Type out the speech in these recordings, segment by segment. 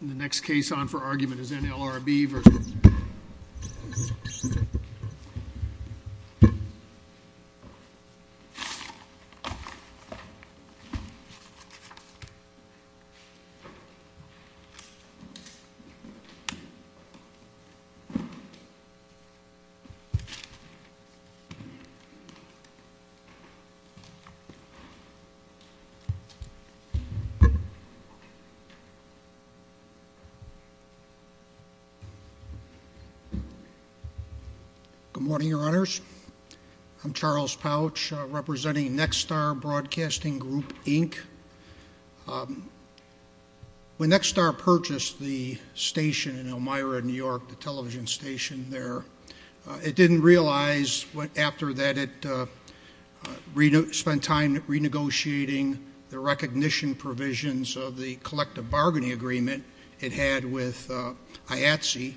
The next case on for argument is NLRB versus Good morning, your honors. I'm Charles Pouch representing Nextar Broadcasting Group, Inc. When Nextar purchased the station in Elmira, New York, the television station there, it didn't realize what after that it spent time renegotiating the recognition provisions of the collective bargaining agreement it had with IATSE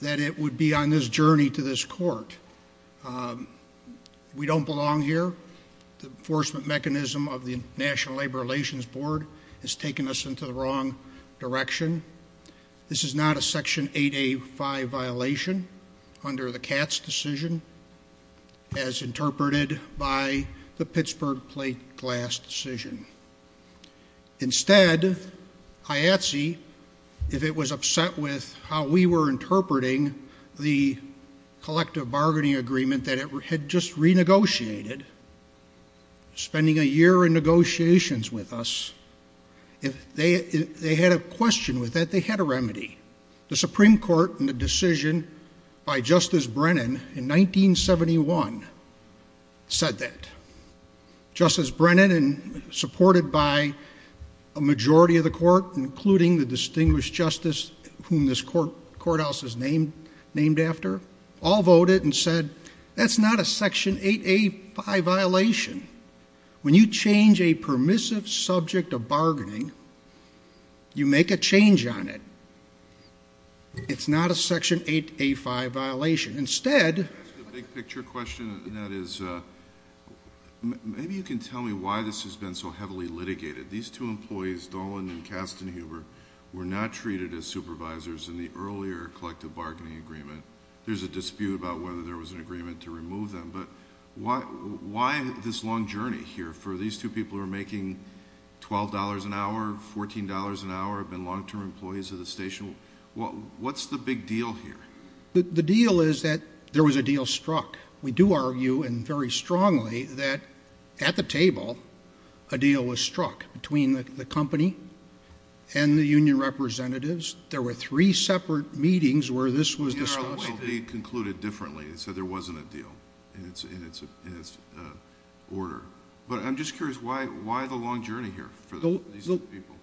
that it would be on this journey to this court. We don't belong here. The enforcement mechanism of the National Labor Relations Board has taken us into the wrong direction. This is not a Section 8A5 violation under the Katz decision as interpreted by the Pittsburgh Plate Glass decision. Instead, IATSE, if it was upset with how we were interpreting the collective bargaining agreement that it had just renegotiated, spending a year in negotiations with us, if they had a question with that, they had a remedy. The Supreme Court in the decision by Justice Brennan in 1971 said that. Justice Brennan and supported by a majority of the court, including the distinguished justice whom this courthouse is named after, all voted and said, that's not a Section 8A5 violation. When you change a permissive subject of bargaining, you make a change on it. It's not a Section 8A5 violation. Instead, the big picture question that is, maybe you can tell me why this has been so heavily litigated. These two employees, Dolan and Kastenhuber, were not treated as supervisors in the earlier collective bargaining agreement. There's a I have this long journey here for these two people who are making $12 an hour, $14 an hour, have been long-term employees of the station. What's the big deal here? The deal is that there was a deal struck. We do argue, and very strongly, that at the table, a deal was struck between the company and the union representatives. There were three separate meetings where this was discussed. It must be concluded differently. It said there wasn't a deal in its order. I'm just curious, why the long journey here for these two people?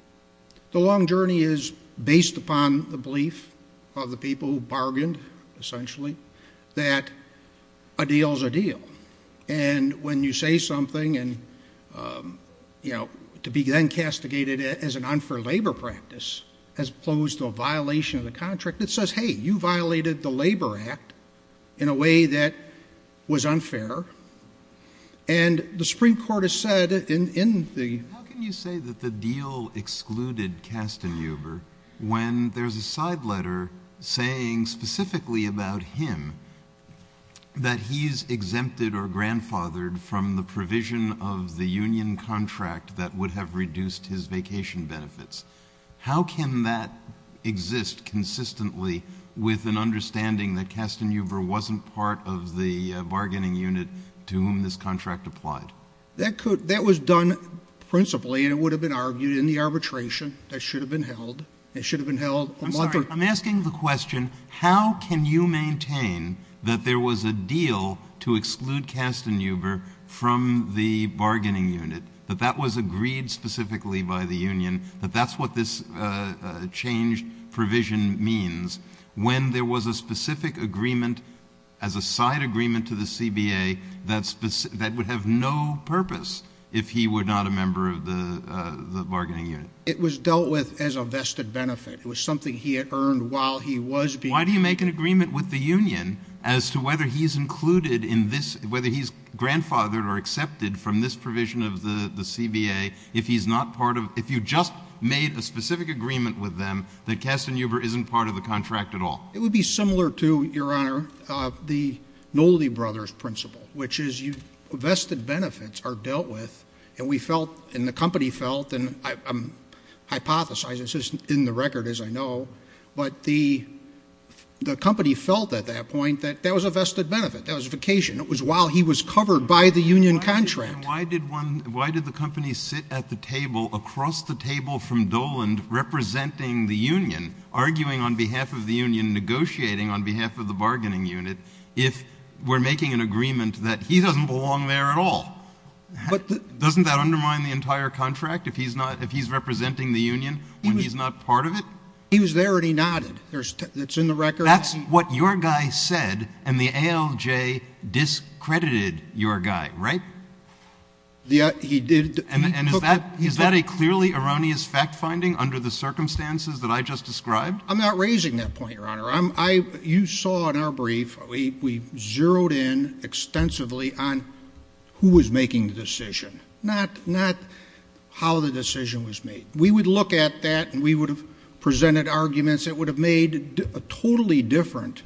The long journey is based upon the belief of the people who bargained, essentially, that a deal is a deal. When you say something, and to be then castigated as an unfair labor practice, as opposed to a violation of the contract, it says, hey, you violated the Labor Act in a way that was unfair. And the Supreme Court has said in the How can you say that the deal excluded Kastenhuber when there's a side letter saying specifically about him that he's exempted or grandfathered from the provision of the union contract that would have reduced his vacation benefits? How can that exist consistently with an understanding that Kastenhuber wasn't part of the bargaining unit to whom this contract applied? That was done principally, and it would have been argued in the arbitration that should have been held. It should have been held on March 3rd. I'm asking the question, how can you maintain that there was a deal to exclude Kastenhuber from the bargaining unit, that that was agreed specifically by the union, that that's what this changed provision means, when there was a specific agreement as a side agreement to the CBA that would have no purpose if he were not a member of the bargaining unit? It was dealt with as a vested benefit. It was something he had earned while he was being Why do you make an agreement with the union as to whether he's included in this, whether he's grandfathered or accepted from this provision of the CBA, if you just made a specific agreement with them that Kastenhuber isn't part of the contract at all? It would be similar to, Your Honor, the Nolley Brothers principle, which is vested benefits are dealt with, and the company felt, and I'm hypothesizing, this isn't in the record as I know, but the company felt at that point that that was a vested benefit, that was a covered by the union contract. Why did the company sit at the table, across the table from Doland, representing the union, arguing on behalf of the union, negotiating on behalf of the bargaining unit, if we're making an agreement that he doesn't belong there at all? Doesn't that undermine the entire contract if he's representing the union when he's not part of it? He was there and he nodded. That's in the record. That's what your guy said, and the ALJ discredited your guy, right? Yeah, he did. Is that a clearly erroneous fact-finding under the circumstances that I just described? I'm not raising that point, Your Honor. You saw in our brief, we zeroed in extensively on who was making the decision, not how the decision was made. We would look at that and we would have presented arguments that would have made a totally different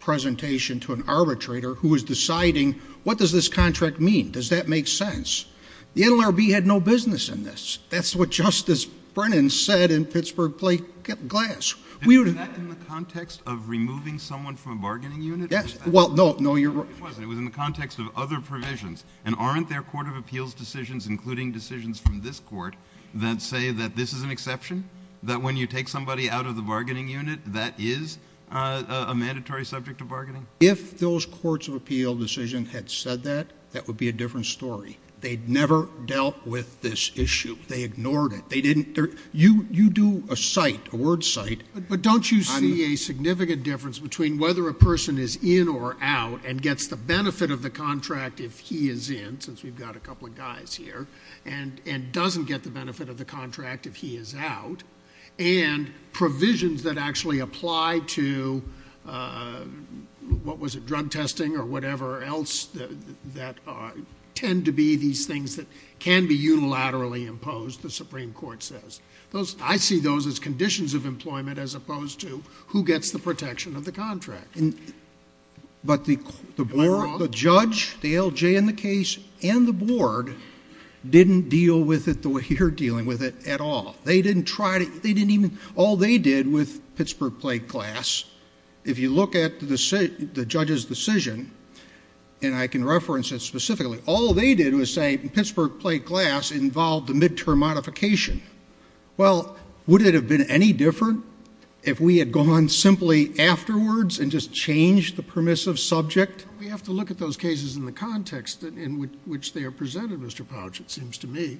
presentation to an arbitrator who was deciding, what does this contract mean? Does that make sense? The NLRB had no business in this. That's what Justice Brennan said in Pittsburgh Plaintiff's Glass. And was that in the context of removing someone from a bargaining unit? Yes. Well, no. No, you're right. It wasn't. It was in the context of other provisions, and aren't there Court of Appeals decisions, including decisions from this Court, that say that this is an exception? That when you take somebody out of the bargaining unit, that is a mandatory subject of bargaining? If those Courts of Appeals decisions had said that, that would be a different story. They'd never dealt with this issue. They ignored it. You do a cite, a word cite. But don't you see a significant difference between whether a person is in or out and we've got a couple of guys here, and doesn't get the benefit of the contract if he is out, and provisions that actually apply to, what was it, drug testing or whatever else, that tend to be these things that can be unilaterally imposed, the Supreme Court says. I see those as conditions of employment as opposed to who gets the protection of the contract. But the judge, the LJ in the case, and the board didn't deal with it the way you're dealing with it at all. They didn't try to... all they did with Pittsburgh Plague Glass, if you look at the judge's decision, and I can reference it specifically, all they did was say Pittsburgh Plague Glass involved the midterm modification. Well, would it have been any different if we had gone simply afterwards and just changed the permissive subject? We have to look at those cases in the context in which they are presented, Mr. Pouch, it seems to me.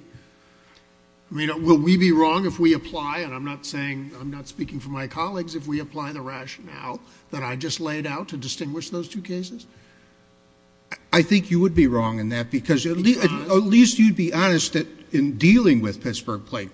I mean, will we be wrong if we apply, and I'm not saying, I'm not speaking for my colleagues, if we apply the rationale that I just laid out to distinguish those two cases? I think you would be wrong in that because at least you'd be honest that in dealing with this case,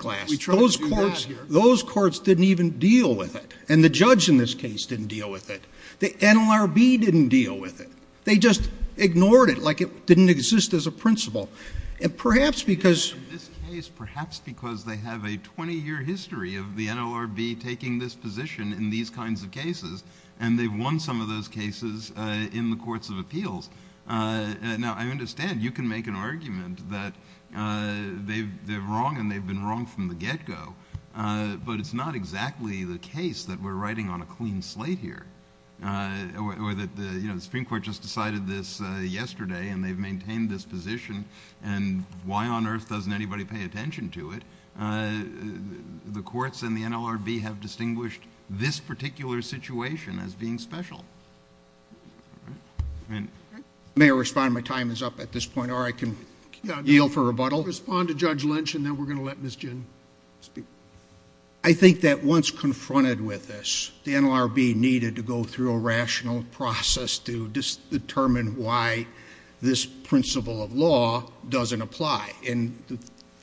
perhaps because they have a 20-year history of the NLRB taking this position in these kinds of cases, and they've won some of those cases in the courts of appeals. Now, I understand you can make an argument that they're wrong and they've been wrong from the get-go, but it's not exactly the case that we're writing on a clean slate here, or that the Supreme Court just decided this yesterday and they've maintained this position, and why on earth doesn't anybody pay attention to it? The courts and the NLRB have distinguished this particular situation as being special. May I respond? My time is up at this point, or I can yield for rebuttal. Respond to Judge Lynch, and then we're going to let Ms. Ginn speak. I think that once confronted with this, the NLRB needed to go through a rational process to determine why this principle of law doesn't apply, and the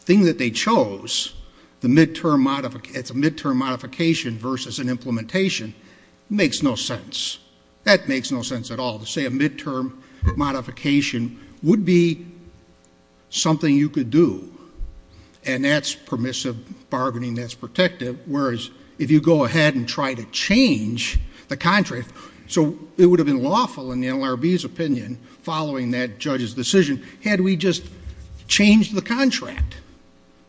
thing that they chose, it's a midterm modification versus an implementation, makes no sense. That makes no sense at all. To say a midterm modification would be something you could do, and that's permissive bargaining, that's protective, whereas if you go ahead and try to change the contract, so it would have been lawful in the NLRB's opinion, following that judge's decision, had we just changed the contract,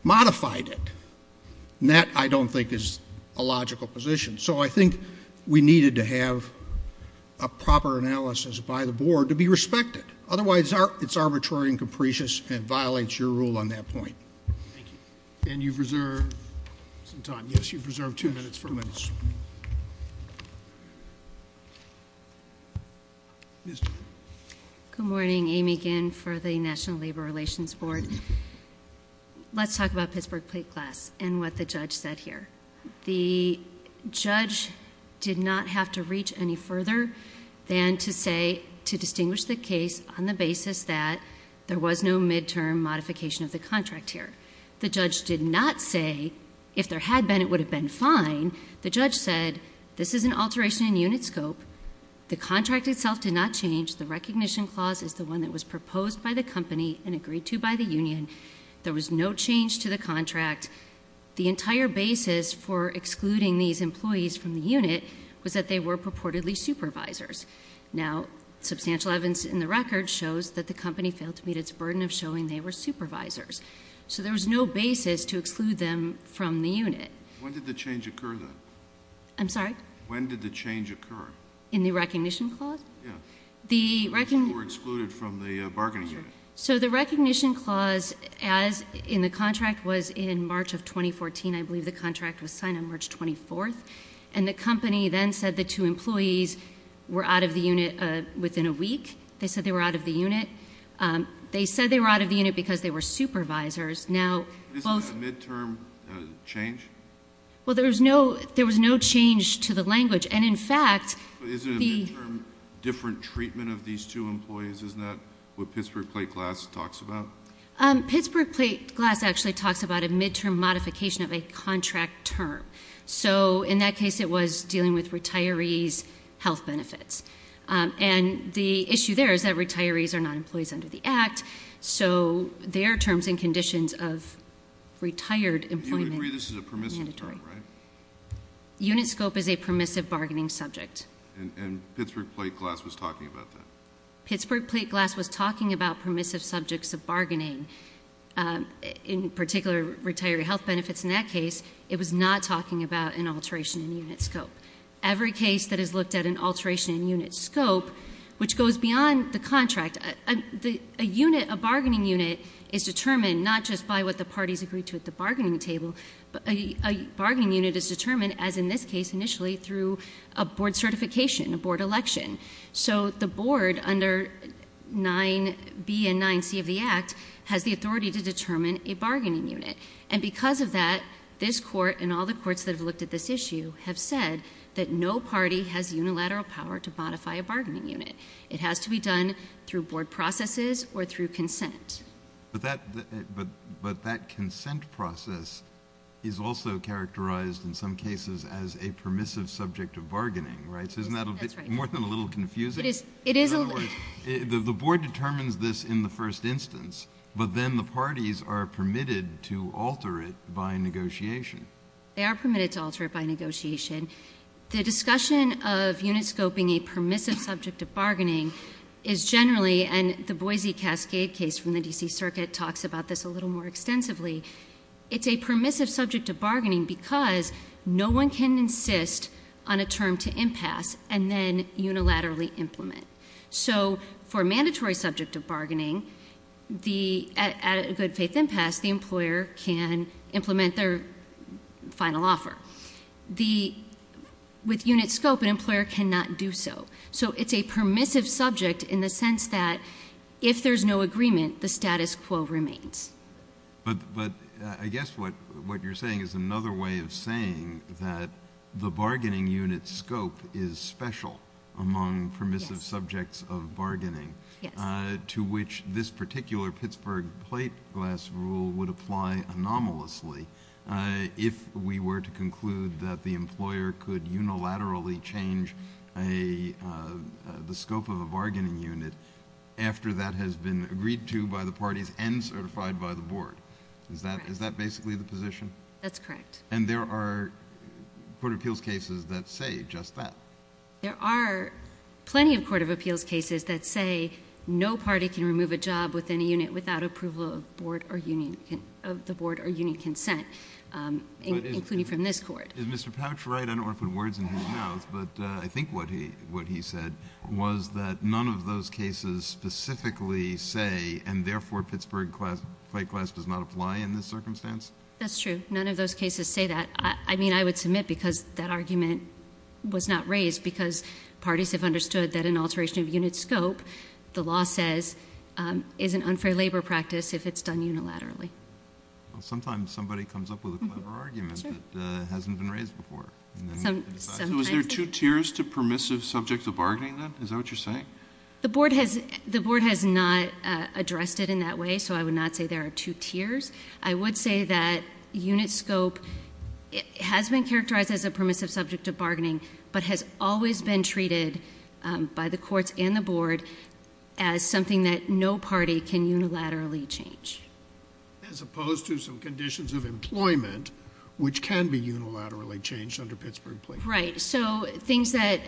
modified it. That, I don't think, is a logical position. I think we needed to have a proper analysis by the board to be respected. Otherwise, it's arbitrary and capricious, and it violates your rule on that point. And you've reserved some time. Yes, you've reserved two minutes for a minute. Good morning. Amy Ginn for the National Labor Relations Board. Let's talk about Pittsburgh Plate Glass and what the judge said here. The judge did not have to reach any further than to say, to distinguish the case on the basis that there was no midterm modification of the contract here. The judge did not say if there had been, it would have been fine. The judge said, this is an alteration in unit scope. The contract itself did not change. The recognition clause is the one that was proposed by the company and agreed to by the union. There was no change to the contract. The entire basis for excluding these employees from the unit was that they were purportedly supervisors. Now, substantial evidence in the record shows that the company failed to meet its burden of showing they were supervisors. So there was no basis to exclude them from the unit. When did the change occur, though? I'm sorry? When did the change occur? In the recognition clause? Yeah. Or excluded from the bargaining unit? The recognition clause in the contract was in March of 2014. I believe the contract was signed on March 24th. The company then said the two employees were out of the unit within a week. They said they were out of the unit. They said they were out of the unit because they were supervisors. Isn't that a midterm change? Well, there was no change to the language. And in fact... But isn't a midterm different treatment of these two employees? Isn't that what Pittsburgh Plate Glass talks about? Pittsburgh Plate Glass actually talks about a midterm modification of a contract term. So in that case, it was dealing with retirees' health benefits. And the issue there is that retirees are not employees under the Act. So their terms and conditions of retired employment... You would agree this is a permissive term, right? Unit scope is a permissive bargaining subject. And Pittsburgh Plate Glass was talking about that? Pittsburgh Plate Glass was talking about permissive subjects of bargaining, in particular, retiree health benefits. In that case, it was not talking about an alteration in unit scope. Every case that has looked at an alteration in unit scope, which goes beyond the contract, a unit, a bargaining unit is determined not just by what the parties agree to at the bargaining table, but a bargaining unit is determined, as in this case initially, through a board certification, a board election. So the board under 9B and 9C of the Act has the authority to determine a bargaining unit. And because of that, this court and all the courts that have looked at this issue have said that no party has unilateral power to modify a bargaining unit. It has to be done through board processes or through consent. But that consent process is also characterized, in some cases, as a permissive subject of bargaining, right? So isn't that more than a little confusing? It is. It is. The board determines this in the first instance, but then the parties are permitted to alter it by negotiation. They are permitted to alter it by negotiation. The discussion of unit scoping a permissive subject of bargaining is generally, and the Boise Cascade case from the D.C. Circuit talks about this a little more extensively, it's a permissive subject of bargaining because no one can insist on a term to impasse and then unilaterally implement. So for a mandatory subject of bargaining, at a good faith impasse, the employer can implement their final offer. With unit scope, an employer cannot do so. So it's a permissive subject in the sense that if there's no agreement, the status quo remains. But I guess what you're saying is another way of saying that the bargaining unit scope is special among permissive subjects of bargaining, to which this particular Pittsburgh plate glass rule would apply anomalously if we were to conclude that the employer could unilaterally change the scope of a bargaining unit after that has been agreed to by the parties and certified by the board. Is that basically the position? That's correct. And there are court of appeals cases that say just that. There are plenty of court of appeals cases that say no party can remove a job within a unit without approval of the board or union consent, including from this court. Is Mr. Pouch right? I don't want to put words in his mouth, but I think what he said was that none of those cases specifically say, and therefore, Pittsburgh plate glass does not apply in this circumstance? That's true. None of those cases say that. I mean, I would submit because that argument was not raised because parties have understood that an alteration of unit scope, the law says, is an unfair labor practice if it's done unilaterally. Well, sometimes somebody comes up with a clever argument that hasn't been raised before. Was there two tiers to permissive subjects of bargaining then? Is that what you're saying? The board has not addressed it in that way, so I would not say there are two tiers. I would say that unit scope has been characterized as a permissive subject of bargaining, but has always been treated by the courts and the board as something that no party can unilaterally change. As opposed to some conditions of employment, which can be unilaterally changed under Pittsburgh plate. Right. So things that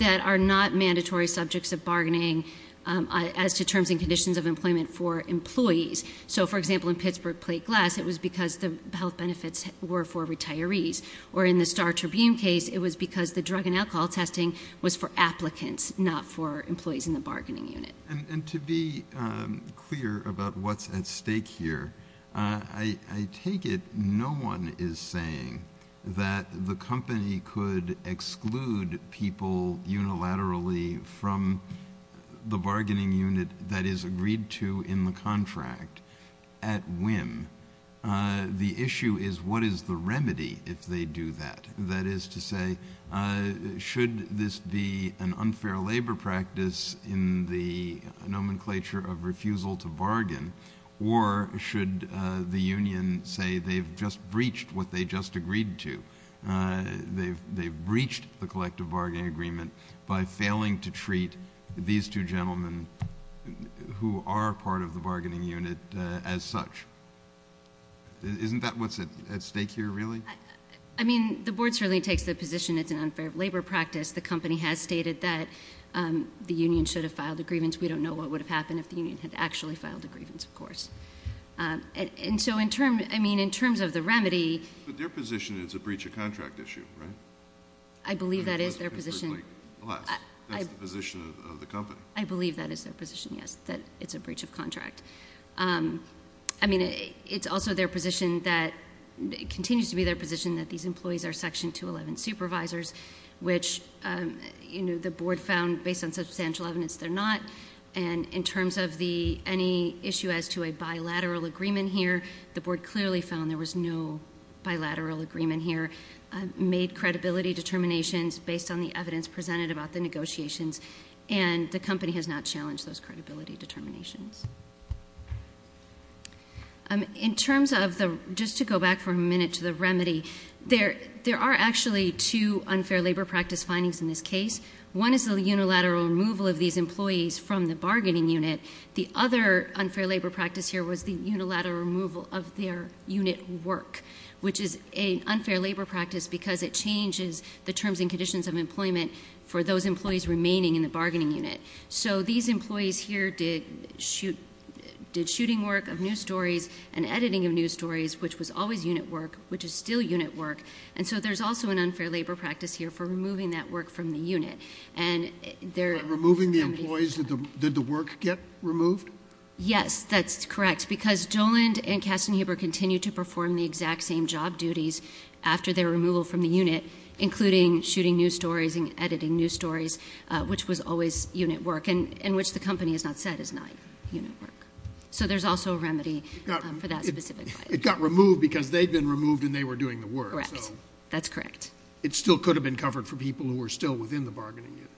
are not mandatory subjects of bargaining as to terms and conditions of employment for employees. So for example, in Pittsburgh plate glass, it was because the health benefits were for retirees. Or in the Star Tribune case, it was because the drug and alcohol testing was for applicants, not for employees in the bargaining unit. And to be clear about what's at stake here, I take it no one is saying that the company could exclude people unilaterally from the bargaining unit that is agreed to in the contract at whim. The issue is what is the remedy if they do that? That is to say, should this be an unfair labor practice in the nomenclature of refusal to bargain? Or should the union say they've just breached what they just agreed to? They've breached the collective bargaining agreement by failing to treat these two gentlemen who are part of the bargaining unit as such. Isn't that what's at stake here, really? I mean, the board certainly takes the position it's an unfair labor practice. The company has stated that the union should have filed a grievance. We don't know what would have happened if the union had actually filed a grievance, of course. And so in terms of the remedy— But their position is a breach of contract issue, right? I believe that is their position. That's the position of the company. I believe that is their position, yes, that it's a breach of contract. I mean, it's also their position that— it continues to be their position that these employees are Section 211 supervisors, which the board found, based on substantial evidence, they're not. And in terms of any issue as to a bilateral agreement here, the board clearly found there was no bilateral agreement here. Made credibility determinations based on the evidence presented about the negotiations, and the company has not challenged those credibility determinations. In terms of the— Just to go back for a minute to the remedy, there are actually two unfair labor practice findings in this case. One is the unilateral removal of these employees from the bargaining unit. The other unfair labor practice here was the unilateral removal of their unit work, which is an unfair labor practice because it changes the terms and conditions of employment for those employees remaining in the bargaining unit. So these employees here did shooting work of news stories and editing of news stories, which was always unit work, which is still unit work. And so there's also an unfair labor practice here for removing that work from the unit. And they're— Removing the employees, did the work get removed? Yes, that's correct. Because Doland and Kastenhuber continue to perform the exact same job duties after their removal from the unit, including shooting news stories and editing news stories, which was always unit work, and which the company has not said is not unit work. So there's also a remedy for that specific— It got removed because they'd been removed and they were doing the work. Correct. That's correct. It still could have been covered for people who were still within the bargaining unit.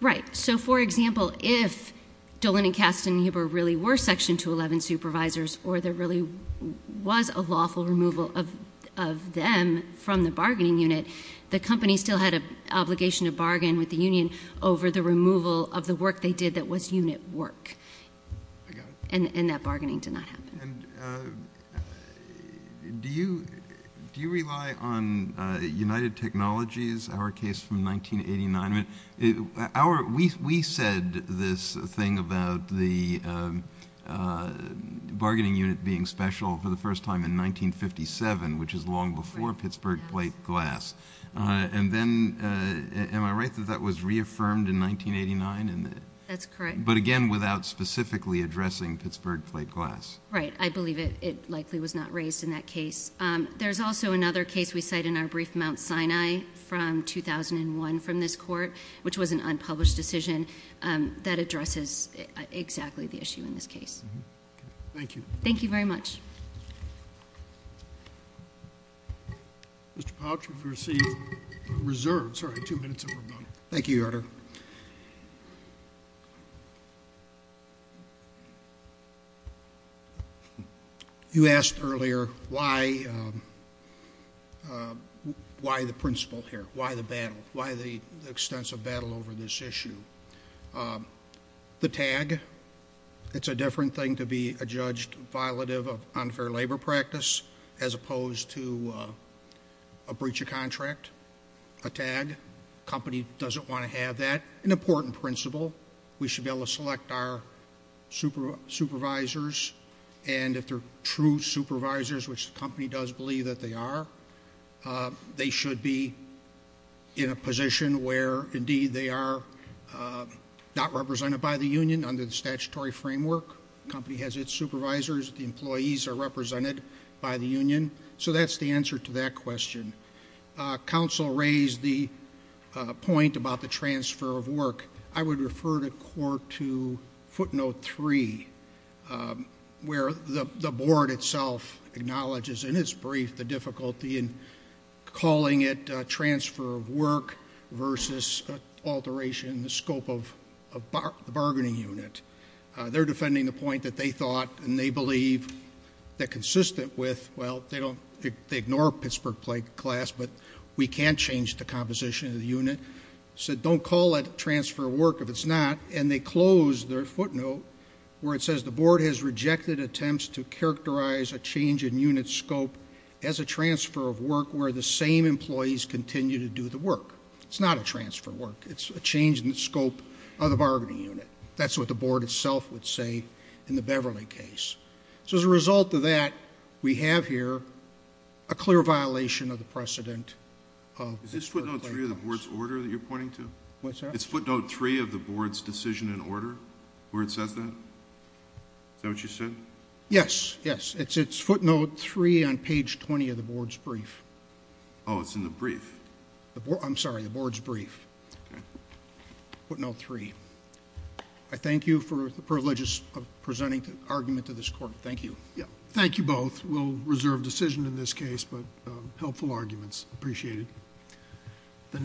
Right. So, for example, if Doland and Kastenhuber really were Section 211 supervisors or there really was a lawful removal of them from the bargaining unit, the company still had an obligation to bargain with the union over the removal of the work they did that was unit work. I got it. And that bargaining did not happen. And do you rely on United Technologies, our case from 1989? Our—we said this thing about the bargaining unit being special for the first time in 1957, which is long before Pittsburgh Plate Glass. And then, am I right that that was reaffirmed in 1989? That's correct. But again, without specifically addressing Pittsburgh Plate Glass. Right. I believe it likely was not raised in that case. There's also another case we cite in our brief, Mount Sinai from 2001 from this court, which was an unpublished decision that addresses exactly the issue in this case. Thank you. Thank you very much. Mr. Pouch, you've received a reserve. Sorry, two minutes and we're done. Thank you, Your Honor. You asked earlier why the principle here, why the battle, why the extensive battle over this issue. The tag, it's a different thing to be a judge violative of unfair labor practice as opposed to a breach of contract. A tag, a company doesn't want to have that. An important principle, we should be able to select our supervisors. And if they're true supervisors, which the company does believe that they are, they should be in a position where, indeed, they are not represented by the union. Under the statutory framework, the company has its supervisors. The employees are represented by the union. So that's the answer to that question. Counsel raised the point about the transfer of work. I would refer the court to footnote three, where the board itself acknowledges in its brief the difficulty in calling it transfer of work versus alteration in the scope of the bargaining unit. They're defending the point that they thought and they believe that consistent with, well, they don't, they ignore Pittsburgh class, but we can't change the composition of the unit. So don't call it transfer of work if it's not. And they close their footnote where it says the board has rejected attempts to characterize a change in unit scope as a transfer of work where the same employees continue to do the work. It's not a transfer of work. It's a change in the scope of the bargaining unit. That's what the board itself would say in the Beverly case. So as a result of that, we have here a clear violation of the precedent. Is this footnote three of the board's order that you're pointing to? It's footnote three of the board's decision and order where it says that? Is that what you said? Yes. Yes. It's footnote three on page 20 of the board's brief. Oh, it's in the brief. I'm sorry, the board's brief. Footnote three. I thank you for the privilege of presenting the argument to this court. Thank you. Thank you both. We'll reserve decision in this case, but helpful arguments. Appreciate it.